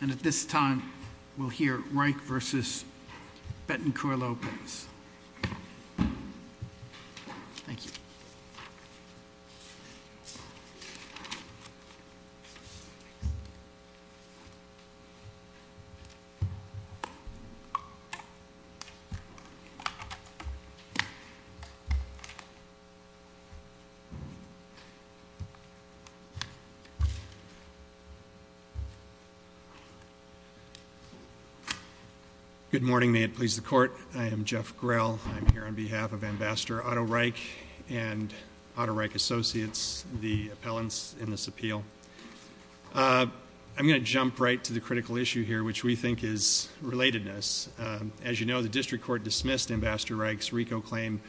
And at this time, we'll hear Reich v. Bettencourt Lopez. Good morning. May it please the court. I am Jeff Grell. I'm here on behalf of Ambassador Otto Reich and Otto Reich Associates, the appellants in this appeal. I'm going to jump right to the critical issue here, which we think is relatedness. As you know, the district court dismissed Ambassador Reich's RICO claim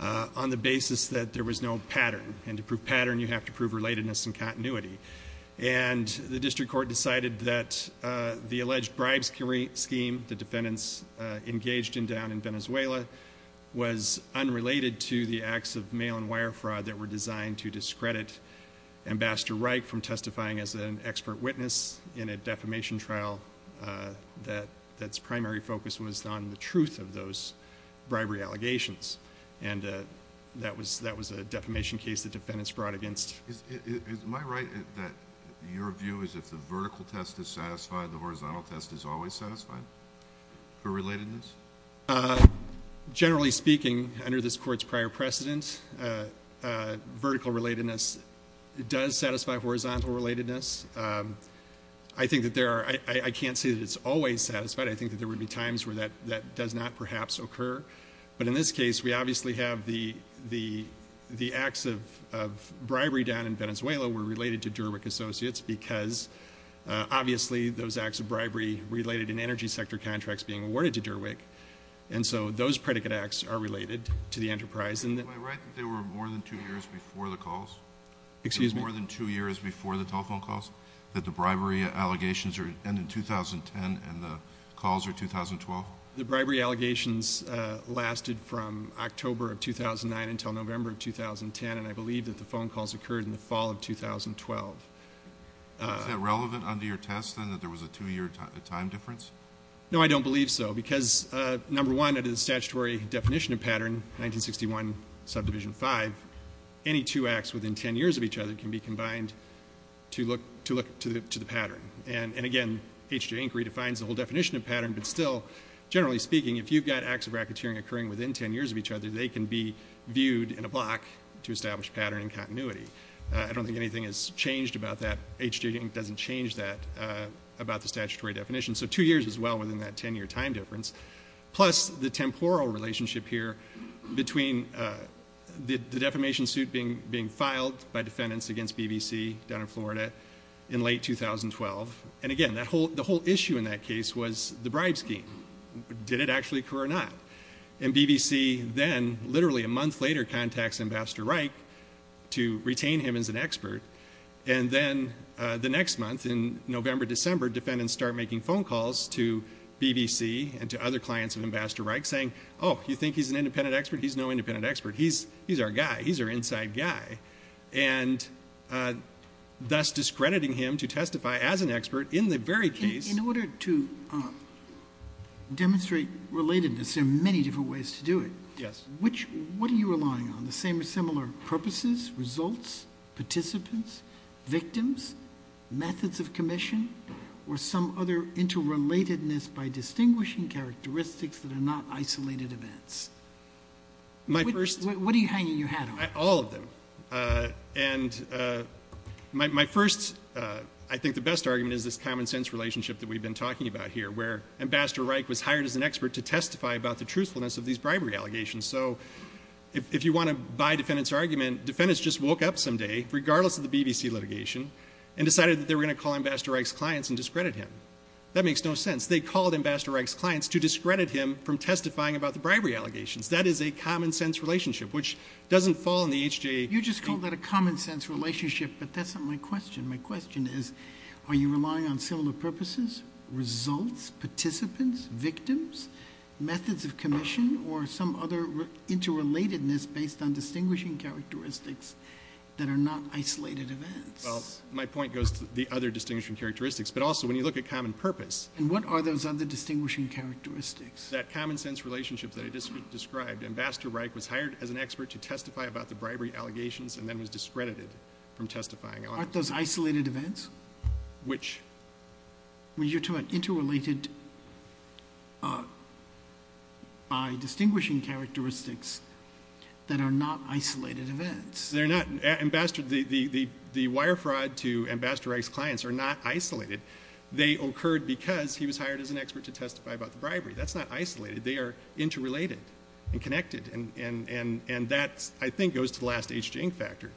on the basis that there was no pattern. And to prove pattern, you have to prove relatedness and continuity. And the district court decided that the alleged bribes scheme the defendants engaged in down in Venezuela was unrelated to the acts of mail and wire fraud that were designed to discredit Ambassador Reich from testifying as an expert witness in a defamation trial that's primary focus was on the truth of those bribery allegations. And that was a defamation case the defendants brought against. Is my right that your view is if the vertical test is satisfied, the horizontal test is always satisfied for relatedness? Generally speaking, under this court's prior precedent, vertical relatedness does satisfy horizontal relatedness. I think that there are I can't say that it's always satisfied. I think that there would be times where that that does not perhaps occur. But in this case, we obviously have the the the acts of bribery down in Venezuela were related to Derwick Associates because obviously those acts of bribery related in energy sector contracts being awarded to Derwick. And so those predicate acts are related to the enterprise. Am I right that there were more than two years before the calls? Excuse me? More than two years before the telephone calls that the bribery allegations are in 2010 and the calls are 2012? The bribery allegations lasted from October of 2009 until November of 2010. And I believe that the phone calls occurred in the fall of 2012. Is that relevant under your test and that there was a two year time difference? No, I don't believe so. Because, number one, under the statutory definition of pattern, 1961 subdivision five, any two acts within 10 years of each other can be combined to look to look to the pattern. And again, H.J. Inc. redefines the whole definition of pattern. But still, generally speaking, if you've got acts of racketeering occurring within 10 years of each other, they can be viewed in a block to establish pattern and continuity. I don't think anything has changed about that. H.J. Inc. doesn't change that about the statutory definition. So two years is well within that 10 year time difference. Plus the temporal relationship here between the defamation suit being filed by defendants against BBC down in Florida in late 2012. And, again, the whole issue in that case was the bribe scheme. Did it actually occur or not? And BBC then, literally a month later, contacts Ambassador Reich to retain him as an expert. And then the next month, in November, December, defendants start making phone calls to BBC and to other clients of Ambassador Reich saying, oh, you think he's an independent expert? He's no independent expert. He's our guy. He's our inside guy. And thus discrediting him to testify as an expert in the very case... In order to demonstrate relatedness, there are many different ways to do it. Yes. What are you relying on? The same or similar purposes, results, participants, victims, methods of commission, or some other interrelatedness by distinguishing characteristics that are not isolated events? My first... What are you hanging your hat on? All of them. And my first, I think the best argument, is this common sense relationship that we've been talking about here, where Ambassador Reich was hired as an expert to testify about the truthfulness of these bribery allegations. So, if you want to buy defendant's argument, defendants just woke up someday, regardless of the BBC litigation, and decided that they were going to call Ambassador Reich's clients and discredit him. That makes no sense. They called Ambassador Reich's clients to discredit him from testifying about the bribery allegations. That is a common sense relationship, which doesn't fall in the HJA... You just called that a common sense relationship, but that's not my question. My question is, are you relying on similar purposes, results, participants, victims, methods of commission, or some other interrelatedness based on distinguishing characteristics that are not isolated events? Well, my point goes to the other distinguishing characteristics, but also when you look at common purpose... And what are those other distinguishing characteristics? That common sense relationship that I just described. Ambassador Reich was hired as an expert to testify about the bribery allegations, and then was discredited from testifying. Aren't those isolated events? Which? When you're talking about interrelated by distinguishing characteristics that are not isolated events. They're not. Ambassador... the wire fraud to Ambassador Reich's clients are not isolated. They occurred because he was hired as an expert to testify about the bribery. That's not isolated. They are interrelated and connected, and that, I think, goes to the last HJA factor.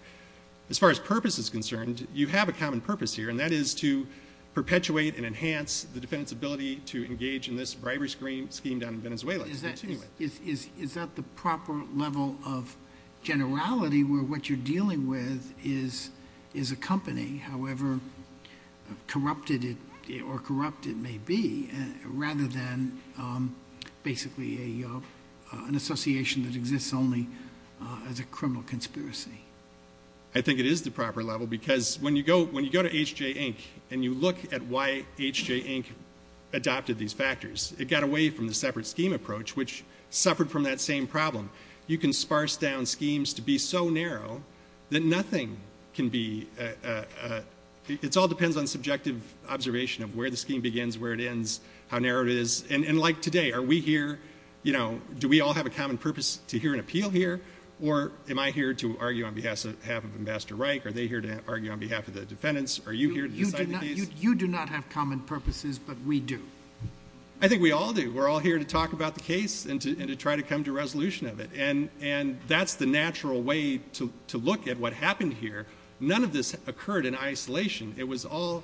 As far as purpose is concerned, you have a common purpose here, and that is to perpetuate and enhance the defendant's ability to engage in this bribery scheme down in Venezuela. Is that the proper level of generality where what you're dealing with is a company, however corrupted or corrupt it may be, rather than basically an association that exists only as a criminal conspiracy? I think it is the proper level, because when you go to H.J. Inc. and you look at why H.J. Inc. adopted these factors, it got away from the separate scheme approach, which suffered from that same problem. You can sparse down schemes to be so narrow that nothing can be... It all depends on subjective observation of where the scheme begins, where it ends, how narrow it is. Like today, are we here... do we all have a common purpose to hear an appeal here, or am I here to argue on behalf of Ambassador Reich? Are they here to argue on behalf of the defendants? Are you here to decide the case? You do not have common purposes, but we do. I think we all do. We're all here to talk about the case and to try to come to a resolution of it. That's the natural way to look at what happened here. None of this occurred in isolation. It was all...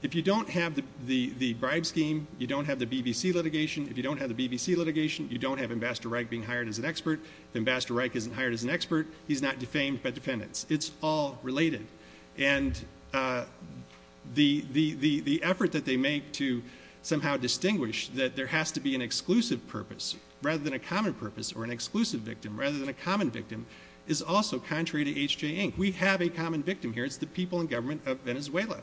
If you don't have the bribe scheme, you don't have the BBC litigation. If you don't have the BBC litigation, you don't have Ambassador Reich being hired as an expert. If Ambassador Reich isn't hired as an expert, he's not defamed by defendants. It's all related. And, the effort that they make to somehow distinguish that there has to be an exclusive purpose, rather than a common purpose, or an exclusive victim, rather than a common victim, is also contrary to H.J. Inc. We have a common victim here. It's the people in government of Venezuela.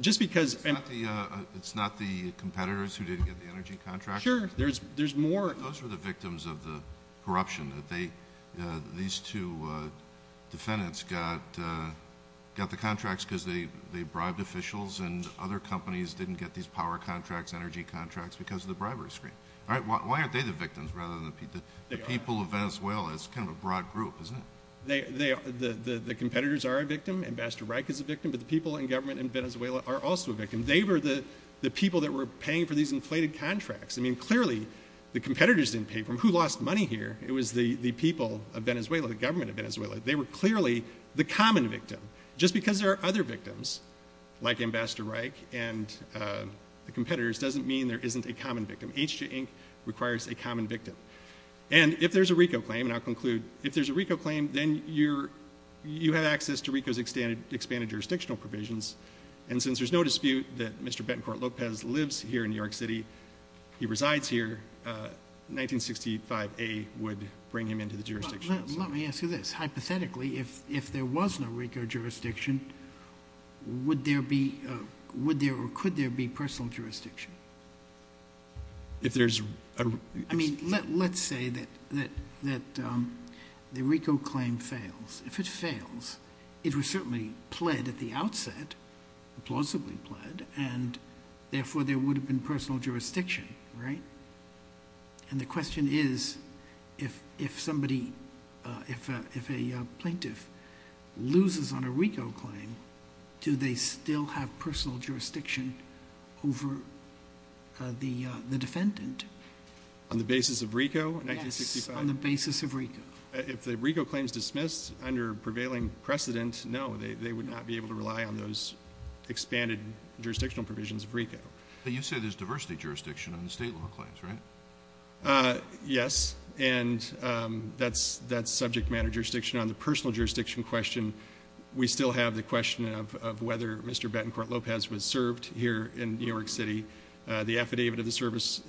Just because... It's not the competitors who didn't get the energy contracts? Sure. There's more... Those were the victims of the corruption. These two defendants got the contracts because they bribed officials, and other companies didn't get these power contracts, energy contracts, because of the bribery scheme. Why aren't they the victims, rather than the people of Venezuela? It's kind of a broad group, isn't it? The competitors are a victim. Ambassador Reich is a victim. But, the people in government in Venezuela are also a victim. They were the people that were paying for these inflated contracts. I mean, clearly, the competitors didn't pay for them. Who lost money here? It was the people of Venezuela, the government of Venezuela. They were clearly the common victim. Just because there are other victims, like Ambassador Reich and the competitors, doesn't mean there isn't a common victim. H.J. Inc. requires a common victim. And, if there's a RICO claim, and I'll conclude... If there's a RICO claim, then you have access to RICO's expanded jurisdictional provisions. And, since there's no dispute that Mr. Betancourt Lopez lives here in New York City, he resides here, 1965A would bring him into the jurisdiction. Let me ask you this. Hypothetically, if there was no RICO jurisdiction, would there be... would there or could there be personal jurisdiction? If there's... I mean, let's say that the RICO claim fails. If it fails, it was certainly pled at the outset, plausibly pled, and, therefore, there would have been personal jurisdiction, right? And, the question is, if somebody... if a plaintiff loses on a RICO claim, do they still have personal jurisdiction over the defendant? On the basis of RICO in 1965? Yes. On the basis of RICO. If the RICO claim is dismissed under prevailing precedent, no, they would not be able to rely on those expanded jurisdictional provisions of RICO. But, you said there's diversity jurisdiction on the State law claims, right? Yes. And, that's subject matter jurisdiction. On the personal jurisdiction question, we still have the question of whether Mr. Betancourt Lopez was served here in New York City. The affidavit of the service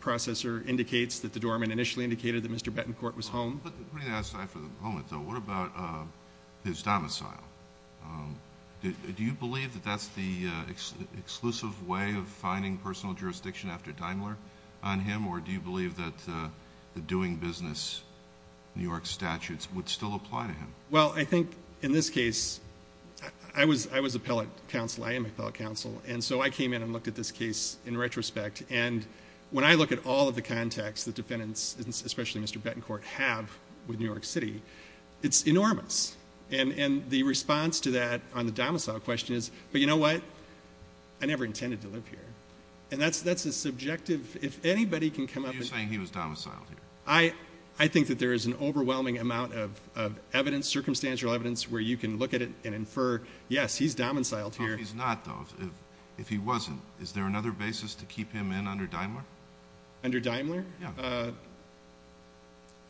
processor indicates that the doorman initially indicated that Mr. Betancourt was home. Let me ask that for a moment, though. What about his domicile? Do you believe that that's the exclusive way of finding personal jurisdiction after Daimler on him, or do you believe that the doing business New York statutes would still apply to him? Well, I think, in this case, I was appellate counsel. I am appellate counsel. And so, I came in and looked at this case in retrospect. And, when I look at all of the contacts the defendants, especially Mr. Betancourt, have with New York City, it's enormous. And, the response to that on the domicile question is, but you know what? I never intended to live here. And, that's a subjective, if anybody can come up... You're saying he was domiciled here. I think that there is an overwhelming amount of evidence, circumstantial evidence, where you can look at it and infer, yes, he's domiciled here. If he's not, though, if he wasn't, is there another basis to keep him in under Daimler? Under Daimler? Yeah.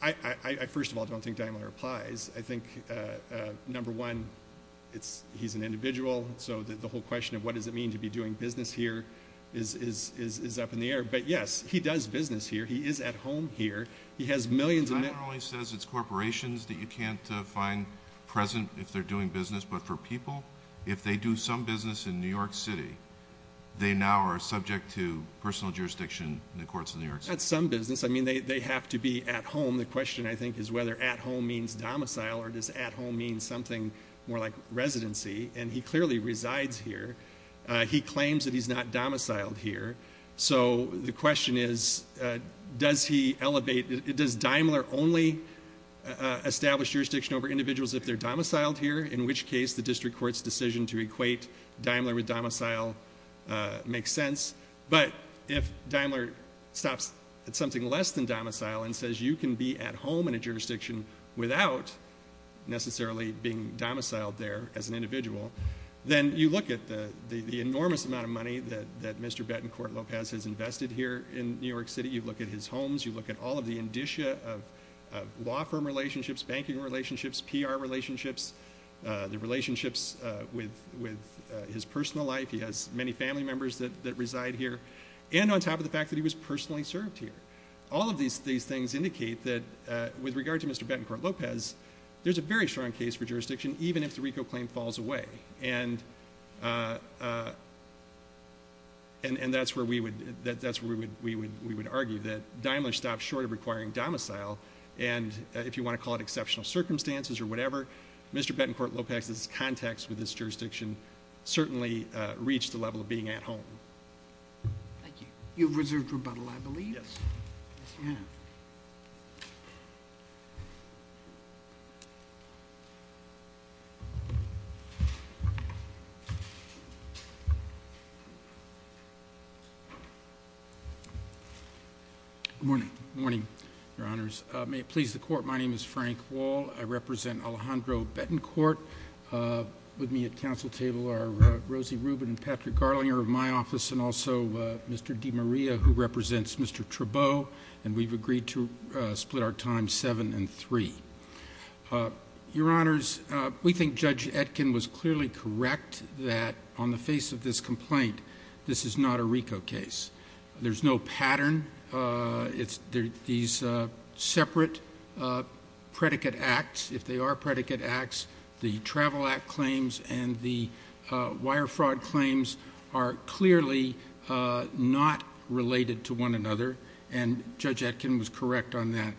I, first of all, don't think Daimler applies. I think, number one, he's an individual. So, the whole question of what does it mean to be doing business here is up in the air. But, yes, he does business here. He is at home here. He has millions of... Daimler only says it's corporations that you can't find present if they're doing business. But, for people, if they do some business in New York City, they now are subject to personal jurisdiction in the courts of New York City. Not some business. I mean, they have to be at home. The question, I think, is whether at home means domicile or does at home mean something more like residency. And, he clearly resides here. He claims that he's not domiciled here. So, the question is, does he elevate... In this case, the district court's decision to equate Daimler with domicile makes sense. But, if Daimler stops at something less than domicile and says you can be at home in a jurisdiction without necessarily being domiciled there as an individual, then you look at the enormous amount of money that Mr. Betancourt Lopez has invested here in New York City. You look at his homes. You look at all of the indicia of law firm relationships, banking relationships, PR relationships. The relationships with his personal life. He has many family members that reside here. And, on top of the fact that he was personally served here. All of these things indicate that with regard to Mr. Betancourt Lopez, there's a very strong case for jurisdiction even if the RICO claim falls away. And, that's where we would argue that Daimler stops short of requiring domicile. And, if you want to call it exceptional circumstances or whatever, Mr. Betancourt Lopez's context with this jurisdiction certainly reached the level of being at home. Thank you. You have reserved rebuttal, I believe. Yes. Yes, you have. Thank you. Good morning. Good morning, Your Honors. May it please the Court, my name is Frank Wall. I represent Alejandro Betancourt. With me at council table are Rosie Rubin and Patrick Garlinger of my office. And, also, Mr. DeMaria who represents Mr. Trabeau. And, we've agreed to split our time seven and three. Your Honors, we think Judge Etkin was clearly correct that on the face of this complaint, this is not a RICO case. There's no pattern. It's these separate predicate acts. If they are predicate acts, the travel act claims and the wire fraud claims are clearly not related to one another. And, Judge Etkin was correct on that.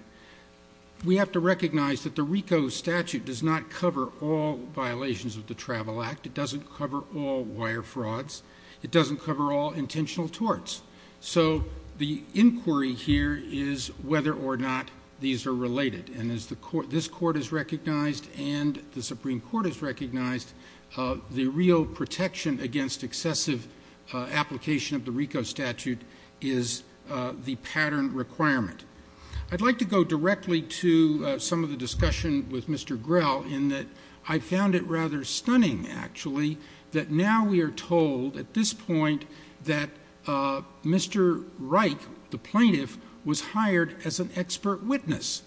We have to recognize that the RICO statute does not cover all violations of the travel act. It doesn't cover all wire frauds. It doesn't cover all intentional torts. So, the inquiry here is whether or not these are related. And, as this Court has recognized and the Supreme Court has recognized, the real protection against excessive application of the RICO statute is the pattern requirement. I'd like to go directly to some of the discussion with Mr. Grell in that I found it rather stunning, actually, that now we are told at this point that Mr. Reich, the plaintiff, was hired as an expert witness.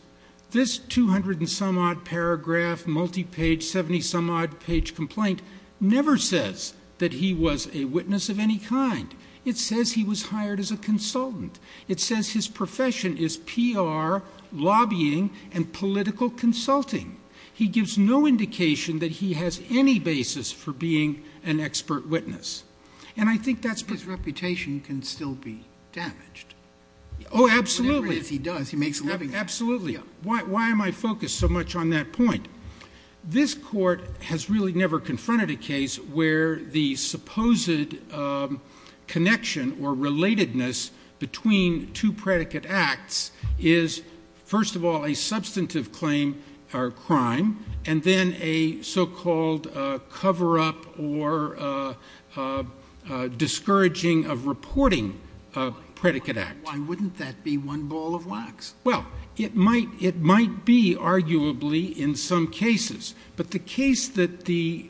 This 200-and-some-odd-paragraph, multi-page, 70-some-odd-page complaint never says that he was a witness of any kind. It says he was hired as a consultant. It says his profession is PR, lobbying, and political consulting. He gives no indication that he has any basis for being an expert witness. And I think that's because reputation can still be damaged. Oh, absolutely. He does. He makes a living at it. Absolutely. Why am I focused so much on that point? This Court has really never confronted a case where the supposed connection or relatedness between two predicate acts is, first of all, a substantive claim or crime, and then a so-called cover-up or discouraging-of-reporting predicate act. Why wouldn't that be one ball of wax? Well, it might be, arguably, in some cases. But the case that the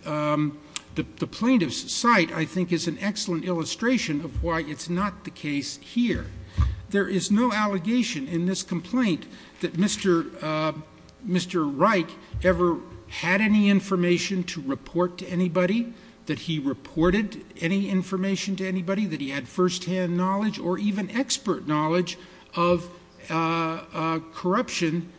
plaintiffs cite, I think, is an excellent illustration of why it's not the case here. There is no allegation in this complaint that Mr. Reich ever had any information to report to anybody, that he reported any information to anybody, that he had firsthand knowledge or even expert knowledge of corruption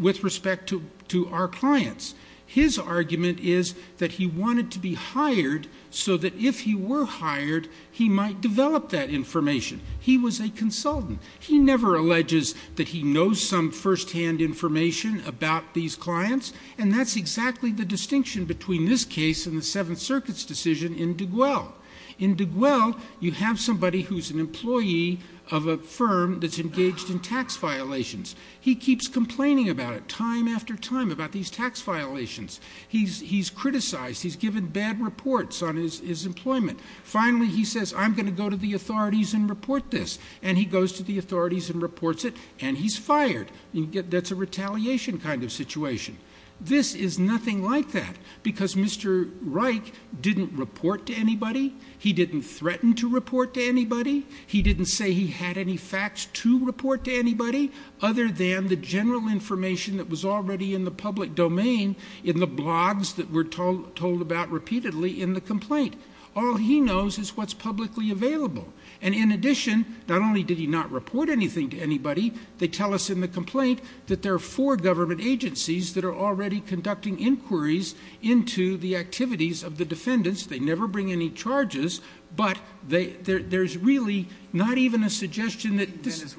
with respect to our clients. His argument is that he wanted to be hired so that if he were hired, he might develop that information. He was a consultant. He never alleges that he knows some firsthand information about these clients, and that's exactly the distinction between this case and the Seventh Circuit's decision in DeGuelle. In DeGuelle, you have somebody who's an employee of a firm that's engaged in tax violations. He keeps complaining about it time after time about these tax violations. He's criticized. He's given bad reports on his employment. Finally, he says, I'm going to go to the authorities and report this. And he goes to the authorities and reports it, and he's fired. That's a retaliation kind of situation. This is nothing like that because Mr. Reich didn't report to anybody. He didn't threaten to report to anybody. He didn't say he had any facts to report to anybody other than the general information that was already in the public domain, in the blogs that were told about repeatedly in the complaint. All he knows is what's publicly available. And in addition, not only did he not report anything to anybody, they tell us in the complaint that there are four government agencies that are already conducting inquiries into the activities of the defendants. They never bring any charges, but there's really not even a suggestion that this is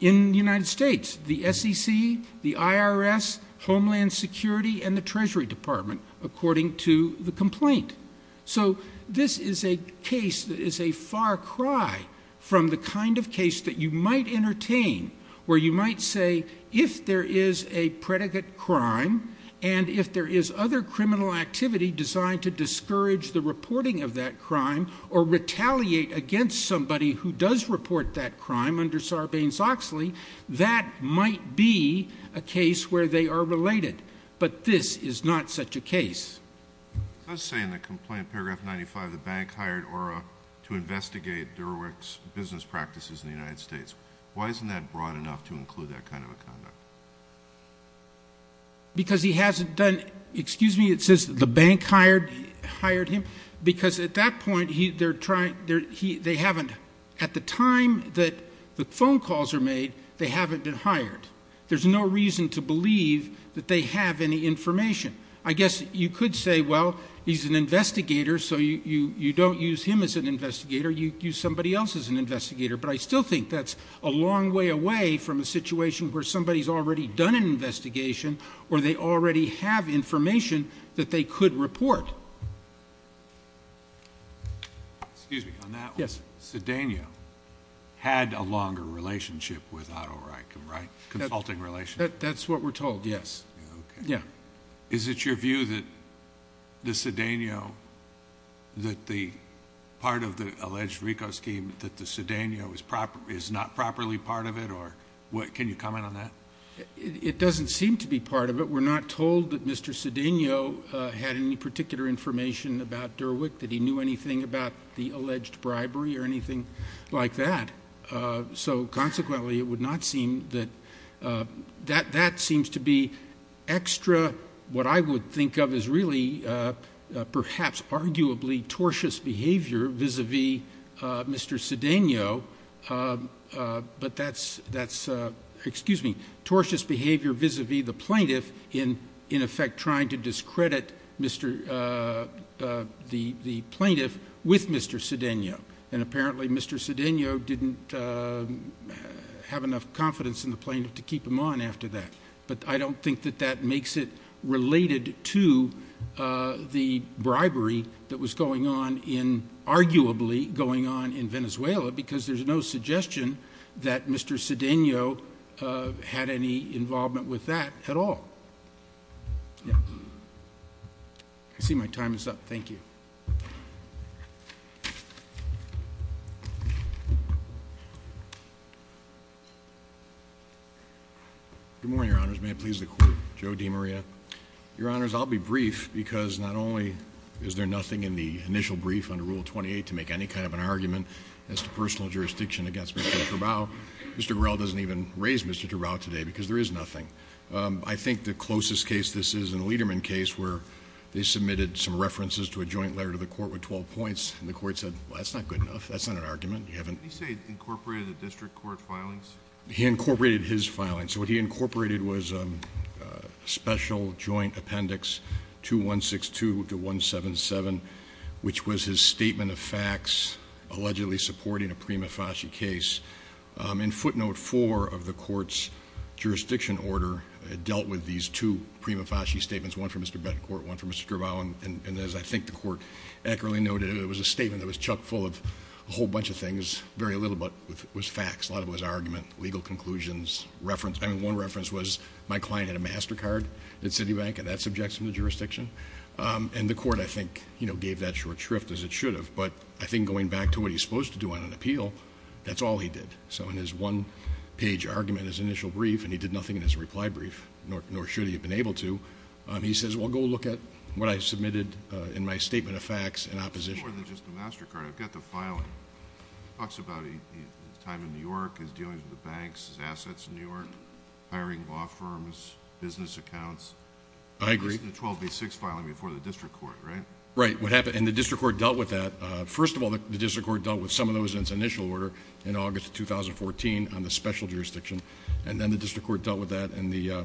in the United States, the SEC, the IRS, Homeland Security, and the Treasury Department, according to the complaint. So this is a case that is a far cry from the kind of case that you might entertain, where you might say if there is a predicate crime, and if there is other criminal activity designed to discourage the reporting of that crime or retaliate against somebody who does report that crime under Sarbanes-Oxley, that might be a case where they are related. But this is not such a case. It does say in the complaint, paragraph 95, the bank hired ORA to investigate Durewicz's business practices in the United States. Why isn't that broad enough to include that kind of a conduct? Because he hasn't done — excuse me, it says the bank hired him, because at that point they haven't — at the time that the phone calls are made, they haven't been hired. There's no reason to believe that they have any information. I guess you could say, well, he's an investigator, so you don't use him as an investigator. You use somebody else as an investigator. But I still think that's a long way away from a situation where somebody's already done an investigation or they already have information that they could report. Excuse me, on that one. Yes. Cedeno had a longer relationship with Otto Reichen, right, consulting relationship? That's what we're told, yes. Okay. Yeah. Is it your view that the Cedeno, that the part of the alleged RICO scheme, that the Cedeno is not properly part of it? Can you comment on that? It doesn't seem to be part of it. We're not told that Mr. Cedeno had any particular information about Derwick, that he knew anything about the alleged bribery or anything like that. So, consequently, it would not seem that that seems to be extra, what I would think of as really perhaps arguably tortious behavior vis-a-vis Mr. Cedeno, but that's, excuse me, tortious behavior vis-a-vis the plaintiff in effect trying to discredit the plaintiff with Mr. Cedeno. And apparently Mr. Cedeno didn't have enough confidence in the plaintiff to keep him on after that. But I don't think that that makes it related to the bribery that was going on in, arguably going on in Venezuela because there's no suggestion that Mr. Cedeno had any involvement with that at all. I see my time is up. Thank you. Good morning, Your Honors. May it please the Court. Joe DiMaria. Your Honors, I'll be brief because not only is there nothing in the initial brief under Rule 28 to make any kind of an argument as to personal jurisdiction against Mr. Cabral, Mr. Cabral doesn't even raise Mr. Cabral today because there is nothing. I think the closest case this is, in the Lederman case, where they submitted some references to a joint letter to the Court with 12 points, and the Court said, well, that's not good enough. That's not an argument. You haven't… Did he, say, incorporate the district court filings? He incorporated his filings. What he incorporated was a special joint appendix to 162 to 177, which was his statement of facts allegedly supporting a prima facie case. In footnote 4 of the Court's jurisdiction order, it dealt with these two prima facie statements, one from Mr. Bettencourt, one from Mr. Cabral, and as I think the Court accurately noted, it was a statement that was chucked full of a whole bunch of things, very little, but it was facts. A lot of it was argument, legal conclusions, reference. One reference was my client had a MasterCard at Citibank, and that subjects him to jurisdiction. And the Court, I think, gave that short shrift as it should have, but I think going back to what he's supposed to do on an appeal, that's all he did. So in his one-page argument, his initial brief, and he did nothing in his reply brief, nor should he have been able to. He says, well, go look at what I submitted in my statement of facts in opposition. It's more than just a MasterCard. I've got the filing. It talks about his time in New York, his dealings with the banks, his assets in New York, hiring law firms, business accounts. I agree. The 1286 filing before the District Court, right? Right. And the District Court dealt with that. First of all, the District Court dealt with some of those in its initial order in August 2014 on the special jurisdiction, and then the District Court dealt with that in the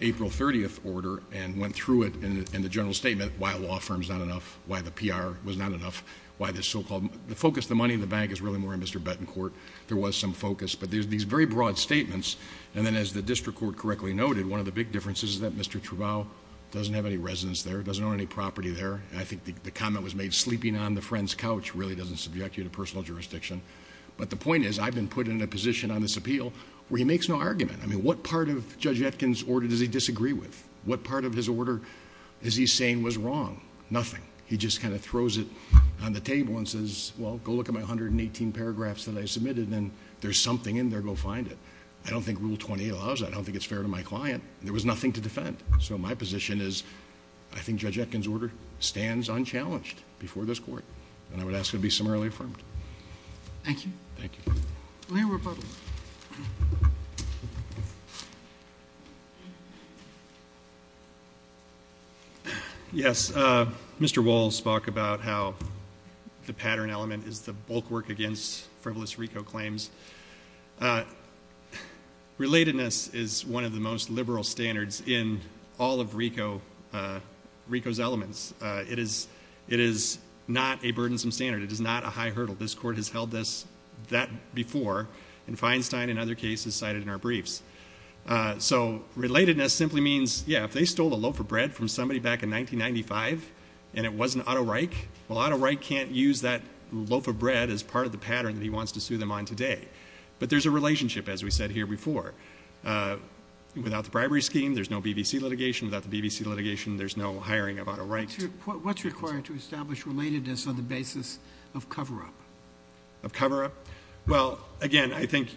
April 30th order and went through it in the general statement why a law firm is not enough, why the PR was not enough, why the so-called focus of the money in the bank is really more on Mr. Bettencourt. There was some focus, but there's these very broad statements, and then as the District Court correctly noted, one of the big differences is that Mr. Travau doesn't have any residence there, doesn't own any property there, and I think the comment was made, sleeping on the friend's couch really doesn't subject you to personal jurisdiction. But the point is, I've been put in a position on this appeal where he makes no argument. I mean, what part of Judge Etkin's order does he disagree with? What part of his order is he saying was wrong? Nothing. He just kind of throws it on the table and says, well, go look at my 118 paragraphs that I submitted, and if there's something in there, go find it. I don't think Rule 28 allows that. I don't think it's fair to my client. There was nothing to defend. So my position is, I think Judge Etkin's order stands unchallenged before this Court, and I would ask it to be summarily affirmed. Thank you. Thank you. William Republic. Yes. Mr. Wohl spoke about how the pattern element is the bulk work against frivolous RICO claims. Relatedness is one of the most liberal standards in all of RICO's elements. It is not a burdensome standard. It is not a high hurdle. This Court has held that before, and Feinstein in other cases cited in our briefs. So relatedness simply means, yeah, if they stole a loaf of bread from somebody back in 1995 and it wasn't Otto Reich, well, Otto Reich can't use that loaf of bread as part of the pattern that he wants to sue them on today. But there's a relationship, as we said here before. Without the bribery scheme, there's no BBC litigation. Without the BBC litigation, there's no hiring of Otto Reich. What's required to establish relatedness on the basis of cover-up? Of cover-up? Well, again, I think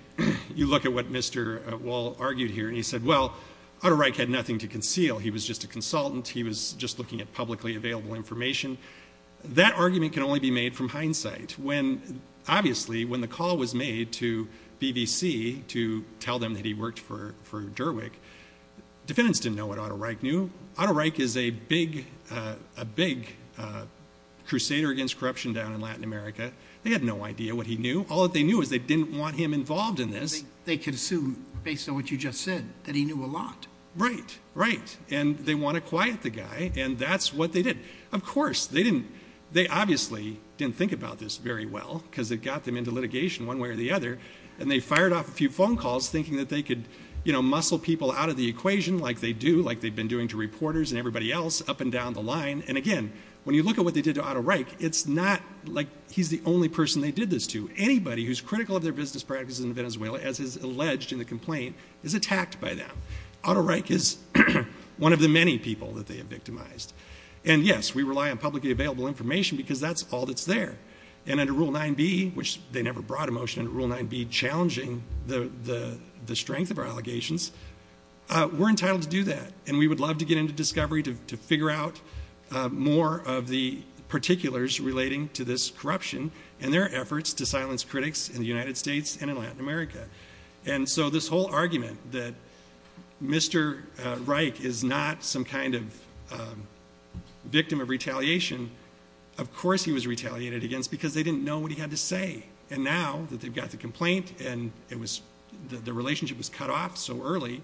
you look at what Mr. Wohl argued here, and he said, well, Otto Reich had nothing to conceal. He was just a consultant. He was just looking at publicly available information. That argument can only be made from hindsight. Obviously, when the call was made to BBC to tell them that he worked for Derwick, defendants didn't know what Otto Reich knew. Otto Reich is a big crusader against corruption down in Latin America. They had no idea what he knew. All that they knew is they didn't want him involved in this. They could assume, based on what you just said, that he knew a lot. Right, right. And they want to quiet the guy, and that's what they did. Of course, they obviously didn't think about this very well because it got them into litigation one way or the other, and they fired off a few phone calls thinking that they could muscle people out of the equation like they do, including to reporters and everybody else up and down the line. And, again, when you look at what they did to Otto Reich, it's not like he's the only person they did this to. Anybody who's critical of their business practices in Venezuela, as is alleged in the complaint, is attacked by them. Otto Reich is one of the many people that they have victimized. And, yes, we rely on publicly available information because that's all that's there. And under Rule 9b, which they never brought a motion under Rule 9b challenging the strength of our allegations, we're entitled to do that, and we would love to get into discovery to figure out more of the particulars relating to this corruption and their efforts to silence critics in the United States and in Latin America. And so this whole argument that Mr. Reich is not some kind of victim of retaliation, of course he was retaliated against because they didn't know what he had to say. And now that they've got the complaint and the relationship was cut off so early,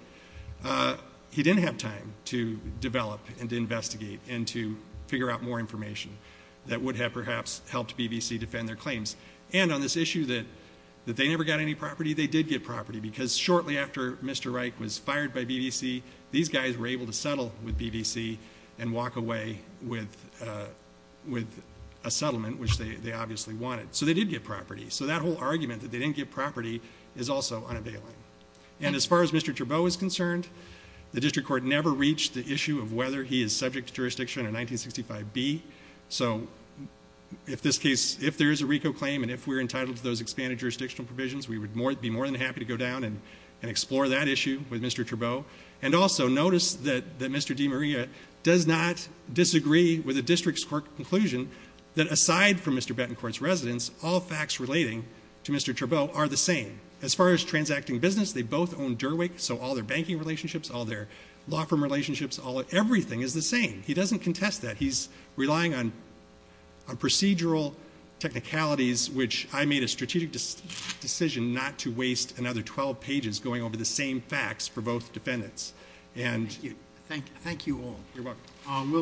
he didn't have time to develop and to investigate and to figure out more information that would have perhaps helped BBC defend their claims. And on this issue that they never got any property, they did get property because shortly after Mr. Reich was fired by BBC, these guys were able to settle with BBC and walk away with a settlement, which they obviously wanted. So they did get property. So that whole argument that they didn't get property is also unavailing. And as far as Mr. Trabeau is concerned, the district court never reached the issue of whether he is subject to jurisdiction under 1965b. So if there is a RICO claim and if we're entitled to those expanded jurisdictional provisions, we would be more than happy to go down and explore that issue with Mr. Trabeau. And also notice that Mr. DiMaria does not disagree with the district's court conclusion that aside from Mr. Bettencourt's residence, all facts relating to Mr. Trabeau are the same. As far as transacting business, they both own Derwick, so all their banking relationships, all their law firm relationships, everything is the same. He doesn't contest that. He's relying on procedural technicalities, which I made a strategic decision not to waste another 12 pages going over the same facts for both defendants. Thank you all. You're welcome.